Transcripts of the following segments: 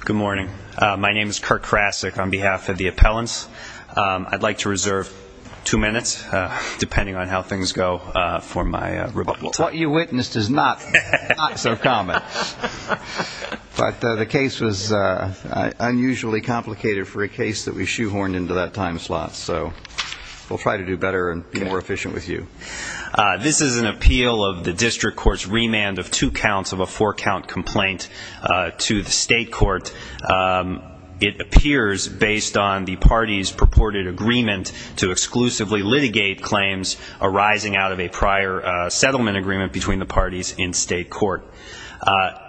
Good morning. My name is Kurt Krasick on behalf of the appellants. I'd like to reserve two minutes depending on how things go for my rebuttal. What you witnessed is not so common, but the case was unusually complicated for a case that we shoehorned into that time slot, so we'll try to do better and be more efficient with you. This is an appeal of the district court's remand of two count complaint to the state court. It appears based on the party's purported agreement to exclusively litigate claims arising out of a prior settlement agreement between the parties in state court.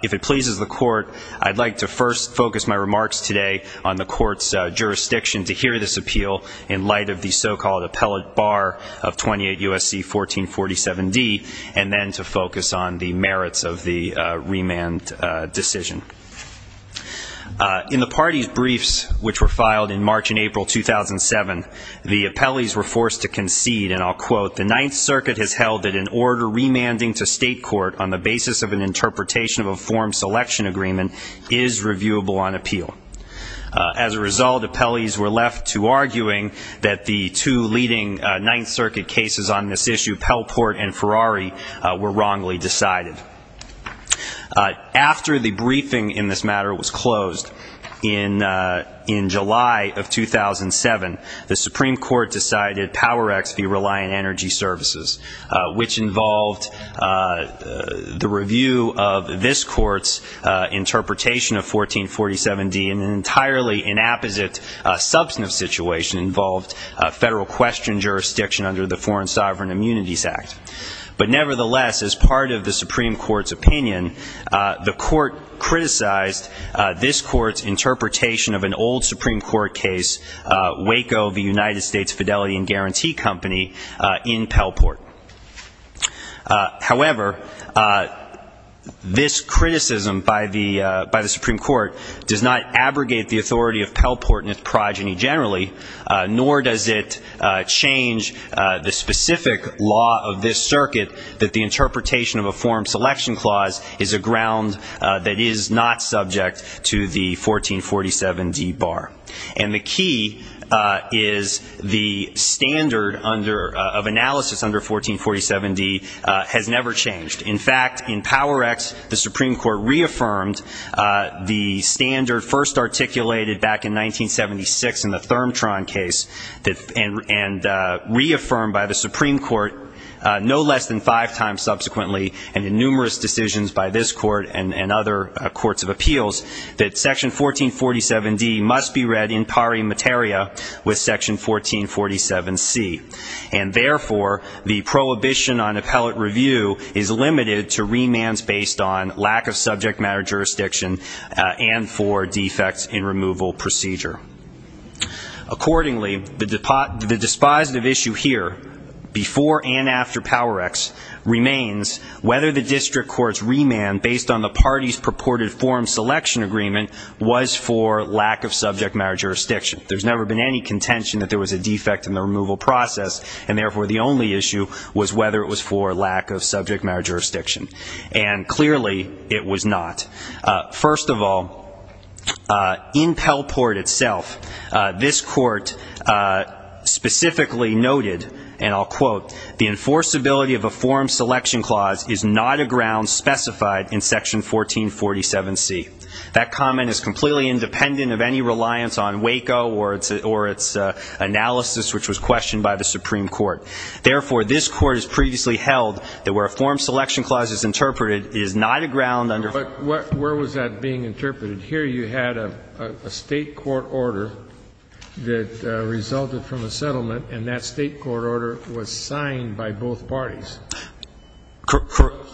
If it pleases the court, I'd like to first focus my remarks today on the court's jurisdiction to hear this appeal in light of the so-called appellate bar of 28 U.S.C. 1447 D, and then to focus on the merits of the remand decision. In the party's briefs, which were filed in March and April 2007, the appellees were forced to concede, and I'll quote, the Ninth Circuit has held that an order remanding to state court on the basis of an interpretation of a form selection agreement is reviewable on appeal. As a result, appellees were left to arguing that the two leading Ninth Circuit cases on this issue, Pelport and Ferrari, were wrongly decided. After the briefing in this matter was closed in July of 2007, the Supreme Court decided Power X be reliant energy services, which involved the review of this court's interpretation of 1447 D in an entirely inapposite substantive situation involved federal question jurisdiction under the Foreign Sovereign Immunities Act. But nevertheless, as part of the Supreme Court's opinion, the court criticized this court's interpretation of an old Supreme Court case, Waco, the United States Fidelity and Guarantee Company, in Pelport. However, this criticism by the by the Supreme Court does not abrogate the authority of Pelport and its progeny generally, nor does it change the specific law of this circuit that the interpretation of a form selection clause is a ground that is not subject to the 1447 D bar. And the key is the standard under of analysis under 1447 D has never changed. In fact, in Power X, the Supreme Court reaffirmed the standard first articulated back in 1976 in the Thermtron case, and reaffirmed by the Supreme Court no less than five times subsequently, and in numerous decisions by this court and other courts of appeals, that section 1447 D must be read in pari materia with section 1447 C. And therefore, the prohibition on appellate review is limited to remands based on lack of subject matter jurisdiction and for defects in removal procedure. Accordingly, the dispositive issue here, before and after Power X, remains whether the district court's remand based on the party's purported form selection agreement was for lack of subject matter jurisdiction. There's never been any contention that there was a defect in the removal process, and therefore the only issue was whether it was for lack of subject matter jurisdiction. And clearly, it was not. First of all, in Pelport itself, this court specifically noted, and I'll quote, the enforceability of a form selection clause is not a ground specified in section 1447 C. That comment is completely independent of any reliance on WACO or its analysis, which was questioned by the Supreme Court. Therefore, this court has previously held that where a form selection clause is interpreted, it is not a ground under ---- But where was that being interpreted? Here you had a state court order that resulted from a settlement, and that state court order was signed by both parties.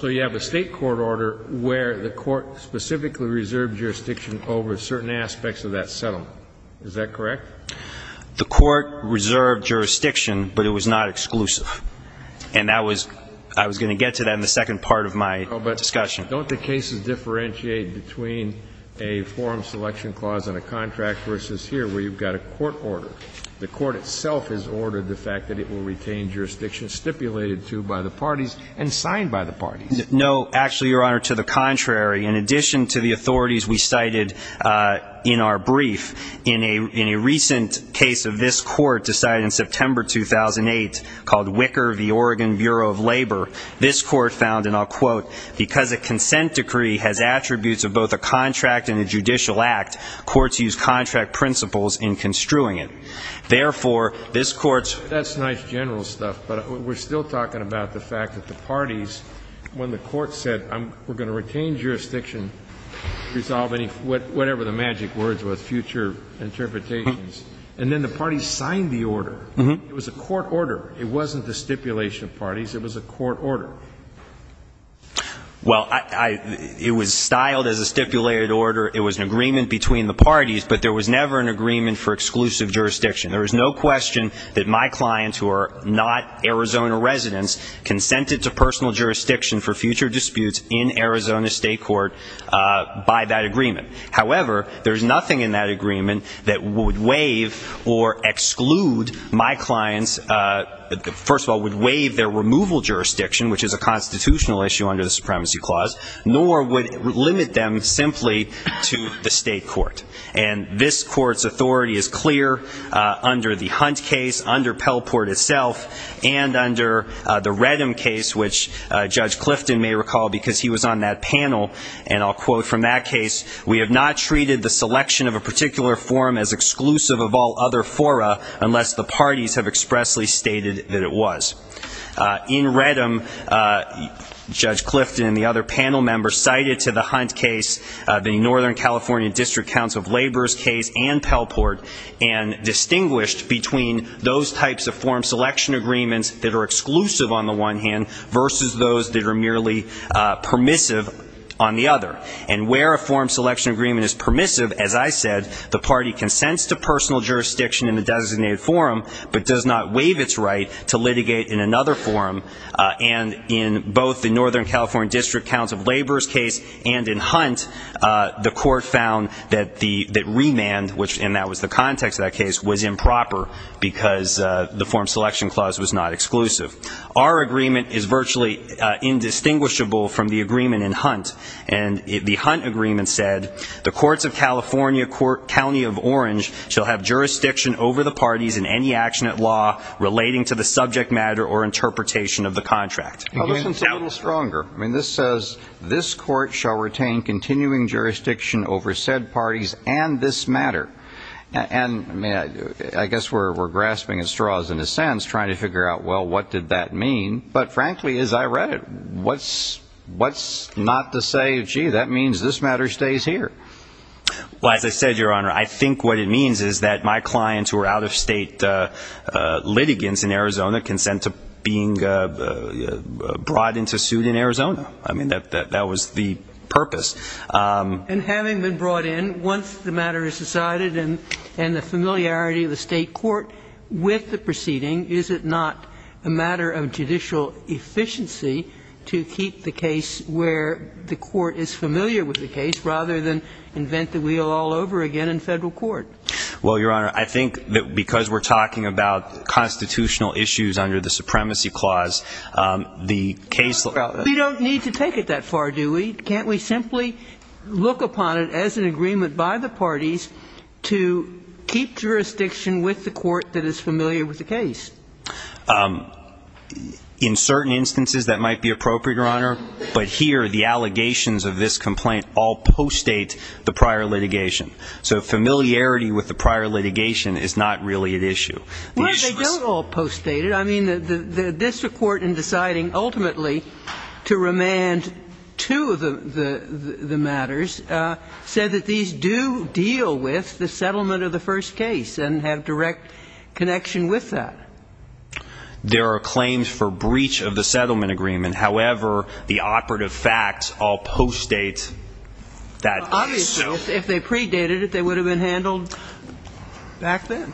So you have a state court order where the court specifically reserved jurisdiction over certain aspects of that settlement. Is that correct? The court reserved jurisdiction, but it was not exclusive. And that was ---- I was going to get to that in the second part of my discussion. But don't the cases differentiate between a form selection clause and a contract versus here, where you've got a court order? The court itself has ordered the fact that it will retain jurisdiction stipulated to by the parties and signed by the parties. No. Actually, Your Honor, to the contrary, in addition to the authorities we cited in our brief, in a recent case of this court decided in September 2008 called Wicker v. Oregon Bureau of Labor, this court found, and I'll quote, because a consent decree has attributes of both a contract and a judicial act, courts use contract principles in construing it. Therefore, this court's ---- That's nice general stuff, but we're still talking about the fact that the parties, when the court said, we're going to retain jurisdiction, resolve whatever the magic words were, future interpretations, and then the parties signed the order. It was a court order. It wasn't the stipulation of parties. It was a court order. Well, it was styled as a stipulated order. It was an agreement between the parties, but there was never an agreement for exclusive jurisdiction. There was no question that my clients, who are not Arizona residents, consented to However, there's nothing in that agreement that would waive or exclude my clients, first of all, would waive their removal jurisdiction, which is a constitutional issue under the Supremacy Clause, nor would limit them simply to the state court. And this court's authority is clear under the Hunt case, under Pelport itself, and under the Redham case, which Judge Clifton may We have not treated the selection of a particular form as exclusive of all other fora unless the parties have expressly stated that it was. In Redham, Judge Clifton and the other panel members cited to the Hunt case, the Northern California District Council of Labor's case and Pelport, and distinguished between those types of form selection agreements that are exclusive on the one hand versus those that are merely permissive on the other. And where a form selection agreement is permissive, as I said, the party consents to personal jurisdiction in the designated forum, but does not waive its right to litigate in another forum. And in both the Northern California District Council of Labor's case and in Hunt, the court found that remand, which in that was the context of that case, was improper because the form selection clause was not exclusive. Our agreement is virtually indistinguishable from the agreement in Hunt. And the Hunt agreement said, the courts of California, County of Orange, shall have jurisdiction over the parties in any action at law relating to the subject matter or interpretation of the contract. Well, this one's a little stronger. I mean, this says, this court shall retain continuing jurisdiction over said parties and this matter. And I guess we're grasping at straws in a sense, trying to figure out, well, what did that mean? But frankly, as I read it, what's not to say, gee, that means this matter stays here? Well, as I said, Your Honor, I think what it means is that my clients who are out-of-state litigants in Arizona consent to being brought into suit in Arizona. I mean, that was the purpose. And having been brought in, once the matter is decided and the familiarity of the state court with the proceeding, is it not a matter of judicial efficiency to keep the case where the court is familiar with the case rather than invent the wheel all over again in federal court? Well, Your Honor, I think that because we're talking about constitutional issues under the supremacy clause, the case of the state court is not a matter of judicial efficiency. We don't need to take it that far, do we? Can't we simply look upon it as an intersection with the court that is familiar with the case? In certain instances, that might be appropriate, Your Honor, but here the allegations of this complaint all post-date the prior litigation. So familiarity with the prior litigation is not really at issue. No, they don't all post-date it. I mean, the district court in deciding ultimately to remand two of the matters said that these do deal with the case and have direct connection with that. There are claims for breach of the settlement agreement. However, the operative facts all post-date that case. Obviously, if they predated it, they would have been handled back then.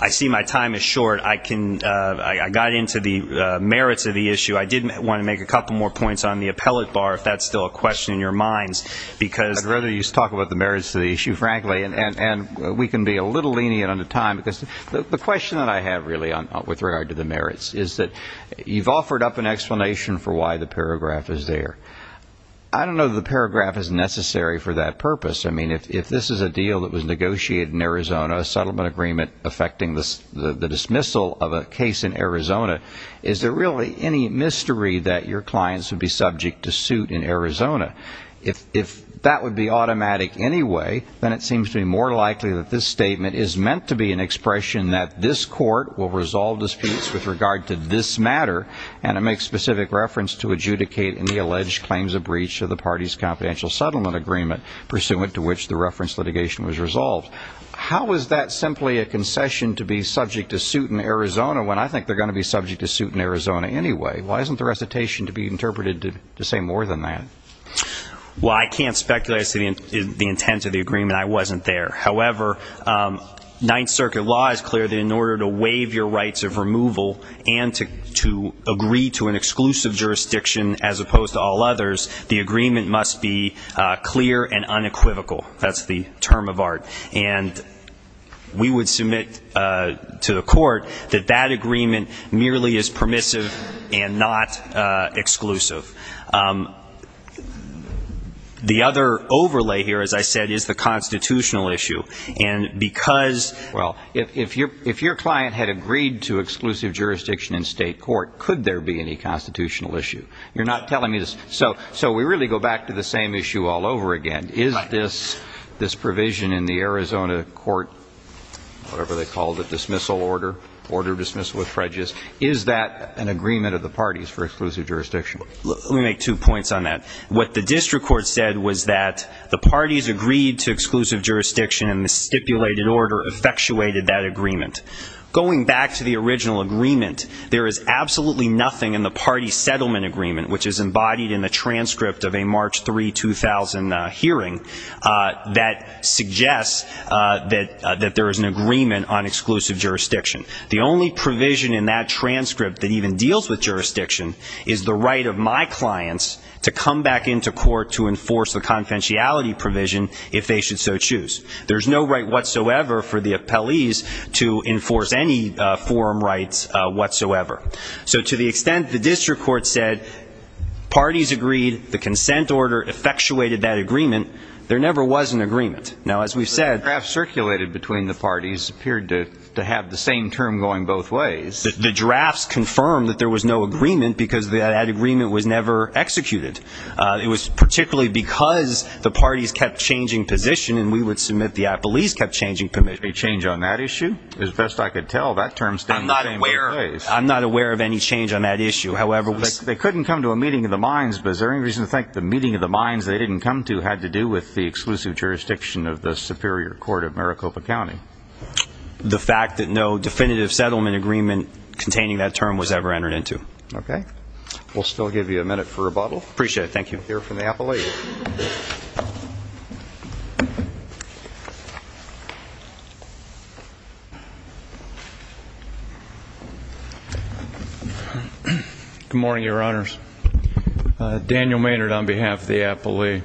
I see my time is short. I can — I got into the merits of the issue. I did want to make a couple more points on the appellate bar, if that's still a question in your minds, because — I'd rather you talk about the merits of the issue, frankly, and we can be a little lenient on the time, because the question that I have really with regard to the merits is that you've offered up an explanation for why the paragraph is there. I don't know that the paragraph is necessary for that purpose. I mean, if this is a deal that was negotiated in Arizona, a settlement agreement affecting the dismissal of a case in Arizona, is there really any mystery that your clients would be subject to suit in Arizona anyway? Why isn't the recitation to be interpreted to say more than that? Well, I can't speculate as to the intent of the agreement. I wasn't there. However, Ninth Circuit law is clear that in order to waive your rights of removal and to agree to an exclusive jurisdiction as opposed to all others, the agreement must be clear and unequivocal. That's the term of art. And we would submit to the court that that agreement merely is permissive and not exclusive. The other overlay here, as I said, is the constitutional issue. And because – Well, if your client had agreed to exclusive jurisdiction in state court, could there be any constitutional issue? You're not telling me – so we really go back to the same issue all over again. Is this provision in the Arizona court, whatever they call it, dismissal order, order of dismissal with fredges, is that an agreement of the parties for exclusive jurisdiction? Let me make two points on that. What the district court said was that the parties agreed to exclusive jurisdiction and the stipulated order effectuated that agreement. Going back to the original agreement, there is absolutely nothing in the party settlement agreement, which is embodied in the transcript of a March 3, 2000 hearing, that suggests that there is an exclusion in that transcript that even deals with jurisdiction is the right of my clients to come back into court to enforce the confidentiality provision if they should so choose. There is no right whatsoever for the appellees to enforce any forum rights whatsoever. So to the extent the district court said parties agreed, the consent order effectuated that agreement, there never was an agreement. Now, as we've said – The draft circulated between the parties appeared to have the same term going both ways. The drafts confirmed that there was no agreement because that agreement was never executed. It was particularly because the parties kept changing position and we would submit the appellees kept changing position. Any change on that issue? As best I could tell, that term stands the same place. I'm not aware of any change on that issue, however – They couldn't come to a meeting of the minds, but is there any reason to think the meeting of the minds they didn't come to had to do with the exclusive jurisdiction of the superior court of Maricopa County? The fact that no definitive settlement agreement containing that term was ever entered into. Okay. We'll still give you a minute for rebuttal. Appreciate it. Thank you. We'll hear from the appellee. Good morning, Your Honors. Daniel Maynard on behalf of the appellee.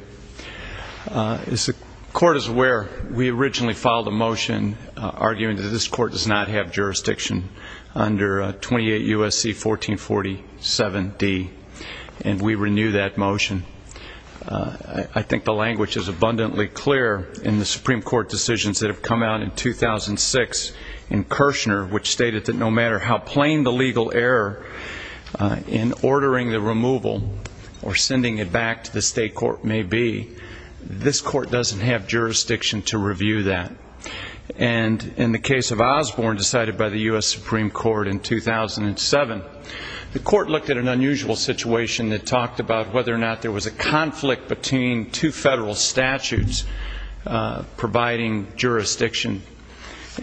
As the court is aware, we originally filed a motion arguing that this court does not have jurisdiction under 28 U.S.C. 1447D and we renew that motion. I think the language is abundantly clear in the Supreme Court decisions that have come out in 2006 in Kirshner, which stated that no matter how plain the legal error in ordering the removal or sending it back to the state court may be, this court doesn't have jurisdiction to review that. And in the case of Osborne decided by the U.S. Supreme Court in 2007, the court looked at an unusual situation that talked about whether or not there was a conflict between two federal statutes providing jurisdiction.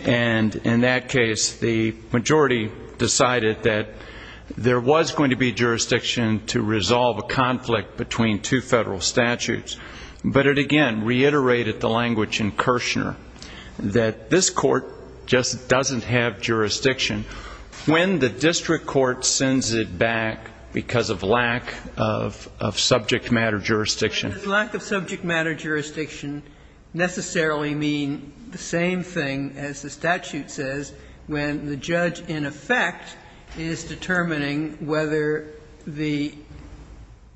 And in that case, the majority decided that there was going to be But it, again, reiterated the language in Kirshner that this court just doesn't have jurisdiction when the district court sends it back because of lack of subject matter jurisdiction. Does lack of subject matter jurisdiction necessarily mean the same thing as the statute says when the judge, in effect, is determining whether the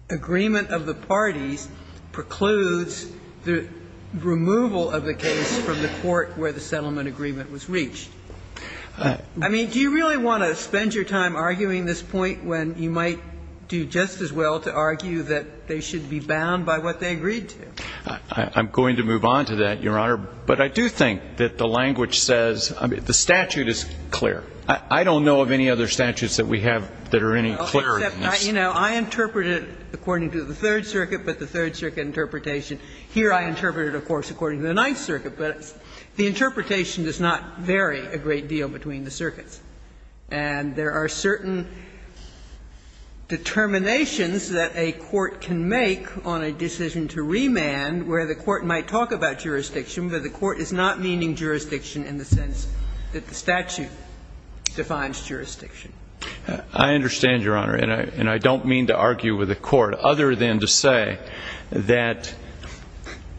agreement of the parties precludes the removal of the case from the court where the settlement agreement was reached? I mean, do you really want to spend your time arguing this point when you might do just as well to argue that they should be bound by what they agreed to? I'm going to move on to that, Your Honor. But I do think that the language says the statute is clear. I don't know of any other statutes that we have that are any clearer than this. I mean, I, you know, I interpreted it according to the Third Circuit, but the Third Circuit interpretation. Here I interpreted it, of course, according to the Ninth Circuit. But the interpretation does not vary a great deal between the circuits. And there are certain determinations that a court can make on a decision to remand where the court might talk about jurisdiction, but the court is not meaning jurisdiction in the sense that the statute defines jurisdiction. I understand, Your Honor, and I don't mean to argue with the court other than to say that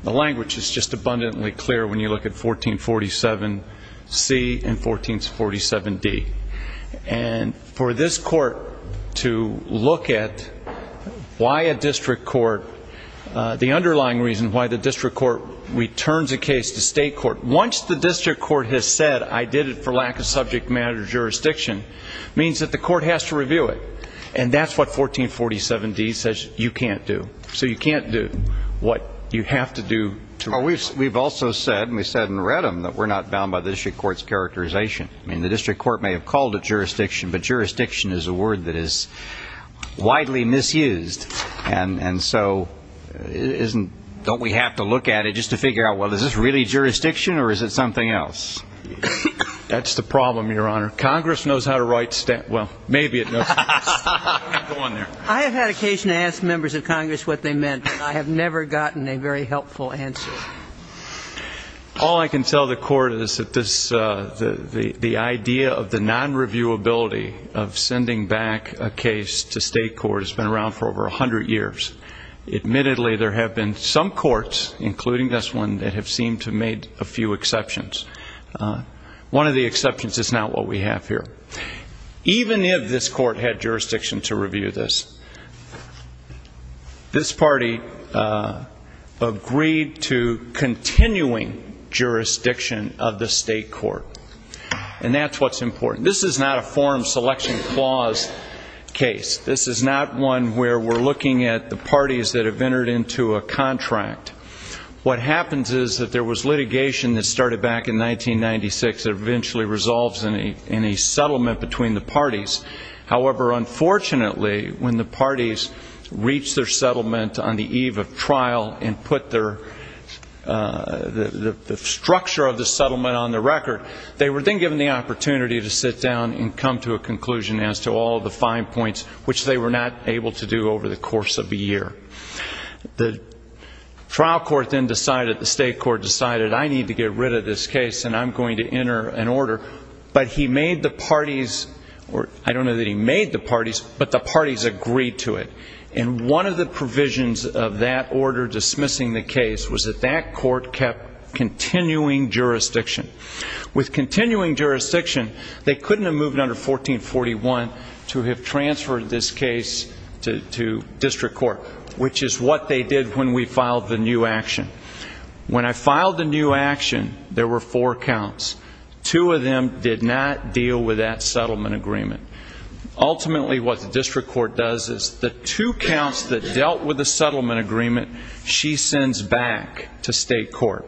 the language is just abundantly clear when you look at 1447C and 1447D. And for this court to look at why a district court, the underlying reason why the district court returns a case to state court, once the district court has said, I did it for lack of subject matter jurisdiction, means that the court has to review it. And that's what 1447D says you can't do. So you can't do what you have to do to remove it. We've also said, and we've said in Redham, that we're not bound by the district court's characterization. I mean, the district court may have called it jurisdiction, but jurisdiction is a word that is widely misused. And so isn't, don't we have to look at it just to figure out, well, is this really jurisdiction or is it something else? That's the problem, Your Honor. Congress knows how to write stat, well, maybe it knows how to write stat. Go on there. I have had occasion to ask members of Congress what they meant, but I have never gotten a very helpful answer. All I can tell the court is that this, the idea of the non-reviewability of sending back a case to state court has been around for over 100 years. Admittedly, there have been some courts, including this one, that have seemed to have made a few exceptions. One of the exceptions is not what we have here. Even if this court had jurisdiction to review this, this party agreed to continuing jurisdiction of the state court. And that's what's important. This is not a form selection clause case. This is not one where we're looking at the parties that have entered into a contract. What happens is that there was litigation that started back in 1996 that eventually resolves in a settlement between the parties. However, unfortunately, when the parties reached their settlement on the eve of trial and put the structure of the settlement on the record, they were then given the opportunity to sit down and come to a conclusion as to all of the fine points, which they were not able to do over the course of a year. The trial court then decided, the state court decided, I need to get rid of this case and I'm going to enter an order. But he made the parties, or I don't know that he made the parties, but the parties agreed to it. And one of the provisions of that order dismissing the case was that that court kept continuing jurisdiction. With continuing jurisdiction, they couldn't have moved under 1441 to have transferred this case to district court, which is what they did when we filed the new action. When I filed the new action, there were four counts. Two of them did not deal with that settlement agreement. Ultimately, what the district court does is the two counts that dealt with the settlement agreement, she sends back to state court.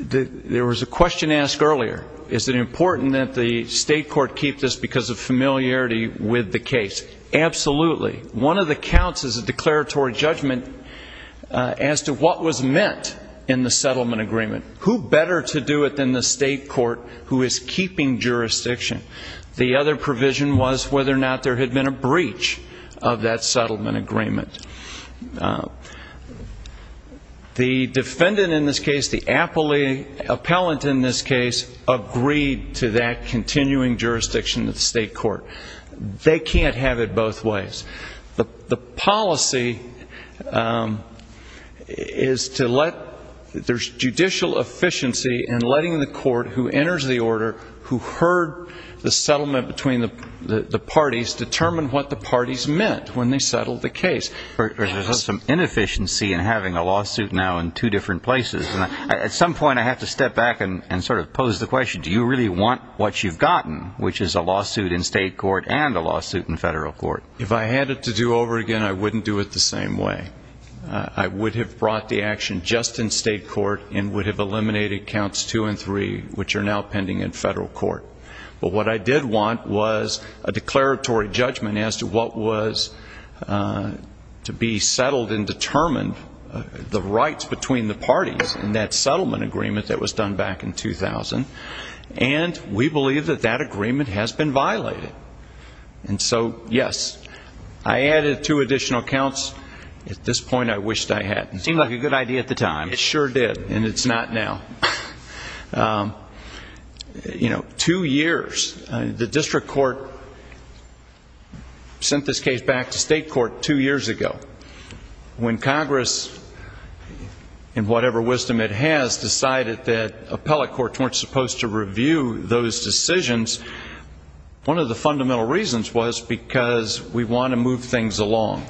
There was a question asked earlier, is it important that the state court keep this because of familiarity with the case? Absolutely. One of the counts is a declaratory judgment as to what was meant in the settlement agreement. Who better to do it than the state court who is keeping jurisdiction? The other provision was whether or not there had been a breach of that settlement agreement. The defendant in this case, the appellate in this case, agreed to that continuing jurisdiction of the state court. They can't have it both ways. The policy is to let, there's judicial efficiency in letting the court who enters the order, who heard the settlement between the parties, determine what the parties meant when they settled the case. There's some inefficiency in having a lawsuit now in two different places. At some point, I have to step back and sort of pose the question, do you really want what you've gotten, which is a lawsuit in state court and a lawsuit in federal court? If I had it to do over again, I wouldn't do it the same way. I would have brought the action just in state court and would have eliminated counts two and three, which are now pending in federal court. What I did want was a declaratory judgment as to what was to be settled and determined, the rights between the parties in that settlement agreement that was done back in 2000. And we believe that that agreement has been violated. And so, yes, I added two additional counts. At this point, I wished I hadn't. It seemed like a good idea at the time. It sure did. And it's not now. You know, two years, the district court sent this case back to state court two years ago when Congress, in whatever wisdom it has, decided that appellate courts weren't supposed to review those decisions. One of the fundamental reasons was because we want to move things along.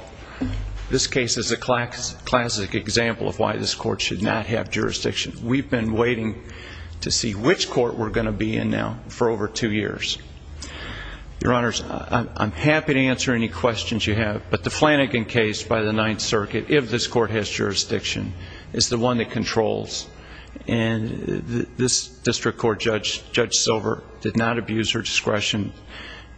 This case is a classic example of why this court should not have jurisdiction. We've been waiting to see which court we're going to be in now for over two years. Your Honors, I'm happy to answer any questions you have. But the Flanagan case by the Ninth Circuit, if this court has jurisdiction, is the one that controls. And this district court judge, Judge Silver, did not abuse her discretion.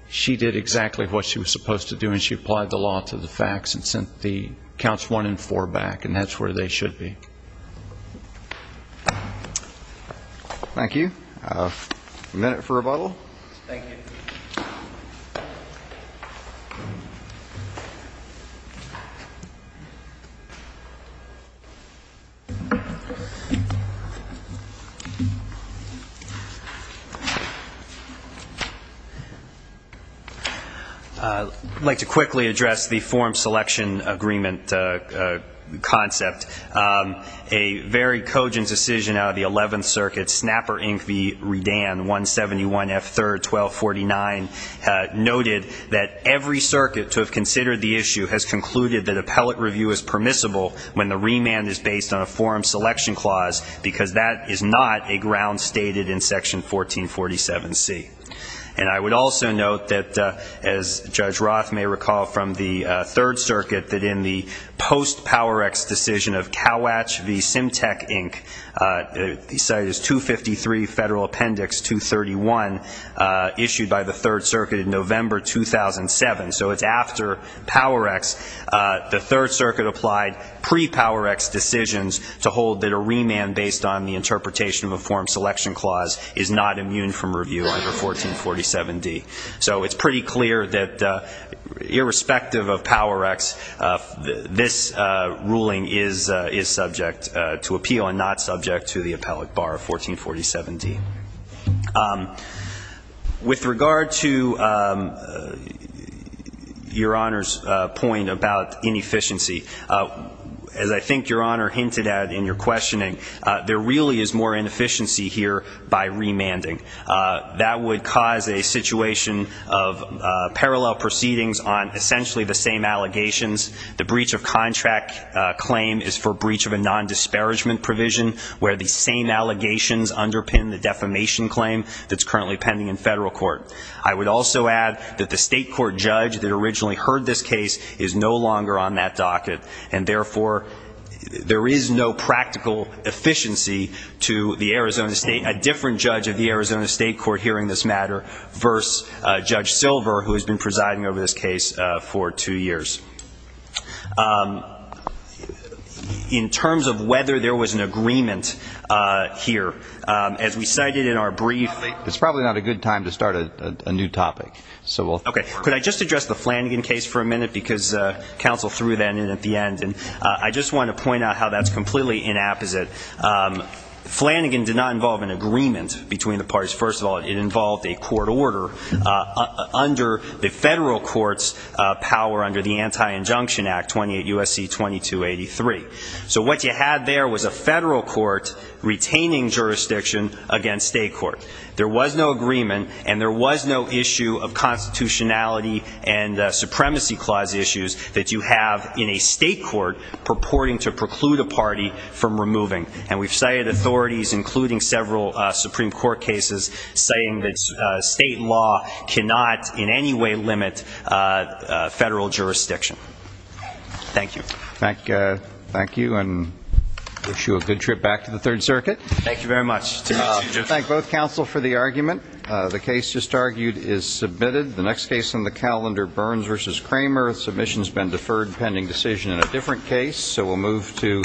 She did exactly what she was supposed to do, and she applied the law to the facts and sent the counts one and four back. And that's where they should be. Thank you. A minute for rebuttal? Thank you. I'd like to quickly address the form selection agreement concept. A very cogent decision out of the Eleventh Circuit, Snapper, Inc. v. Redan, 171F3-1249, noted that every circuit to have considered the issue has concluded that appellate review is permissible when the remand is based on a form selection clause, because that is not a ground stated in Section 1447C. And I would also note that, as Judge Roth may recall from the Third Circuit, that in the post-PowerX decision of Kowatch v. Symtec, Inc., the site is 253 Federal Appendix 231, issued by the Third Circuit in November 2007. So it's after PowerX, the Third Circuit applied pre-PowerX decisions to hold that a remand based on the interpretation of a form selection clause is not immune from review under 1447D. So it's pretty clear that irrespective of PowerX, this ruling is subject to appeal and not subject to the appellate bar of 1447D. With regard to Your Honor's point about inefficiency, as I think Your Honor hinted at in your questioning, there really is more inefficiency here by remanding. That would cause a situation of parallel proceedings on essentially the same allegations. The breach of contract claim is for breach of a non-disparagement provision, where the same allegations underpin the defamation claim that's currently pending in federal court. I would also add that the state court judge that originally heard this case is no longer on that docket, and therefore, there is no practical efficiency to the Arizona State a different judge of the Arizona State Court hearing this matter versus Judge Silver, who has been presiding over this case for two years. In terms of whether there was an agreement here, as we cited in our brief It's probably not a good time to start a new topic. So we'll Okay. Could I just address the Flanagan case for a minute? Because counsel threw that in at the end. I just want to point out how that's completely inapposite. Flanagan did not involve an agreement between the parties. First of all, it involved a court order under the federal court's power under the Anti-Injunction Act 28 U.S.C. 2283. So what you had there was a federal court retaining jurisdiction against state court. There was no agreement, and there was no issue of constitutionality and supremacy clause issues that you have in a state court purporting to preclude a party from removing. And we've cited authorities, including several Supreme Court cases, saying that state law cannot in any way limit federal jurisdiction. Thank you. Thank you. And I wish you a good trip back to the Third Circuit. Thank you very much. Thank both counsel for the argument. The case just argued is submitted. The next case on the calendar, Burns v. Kramer. Submission's been deferred pending decision in a different case. So we'll move to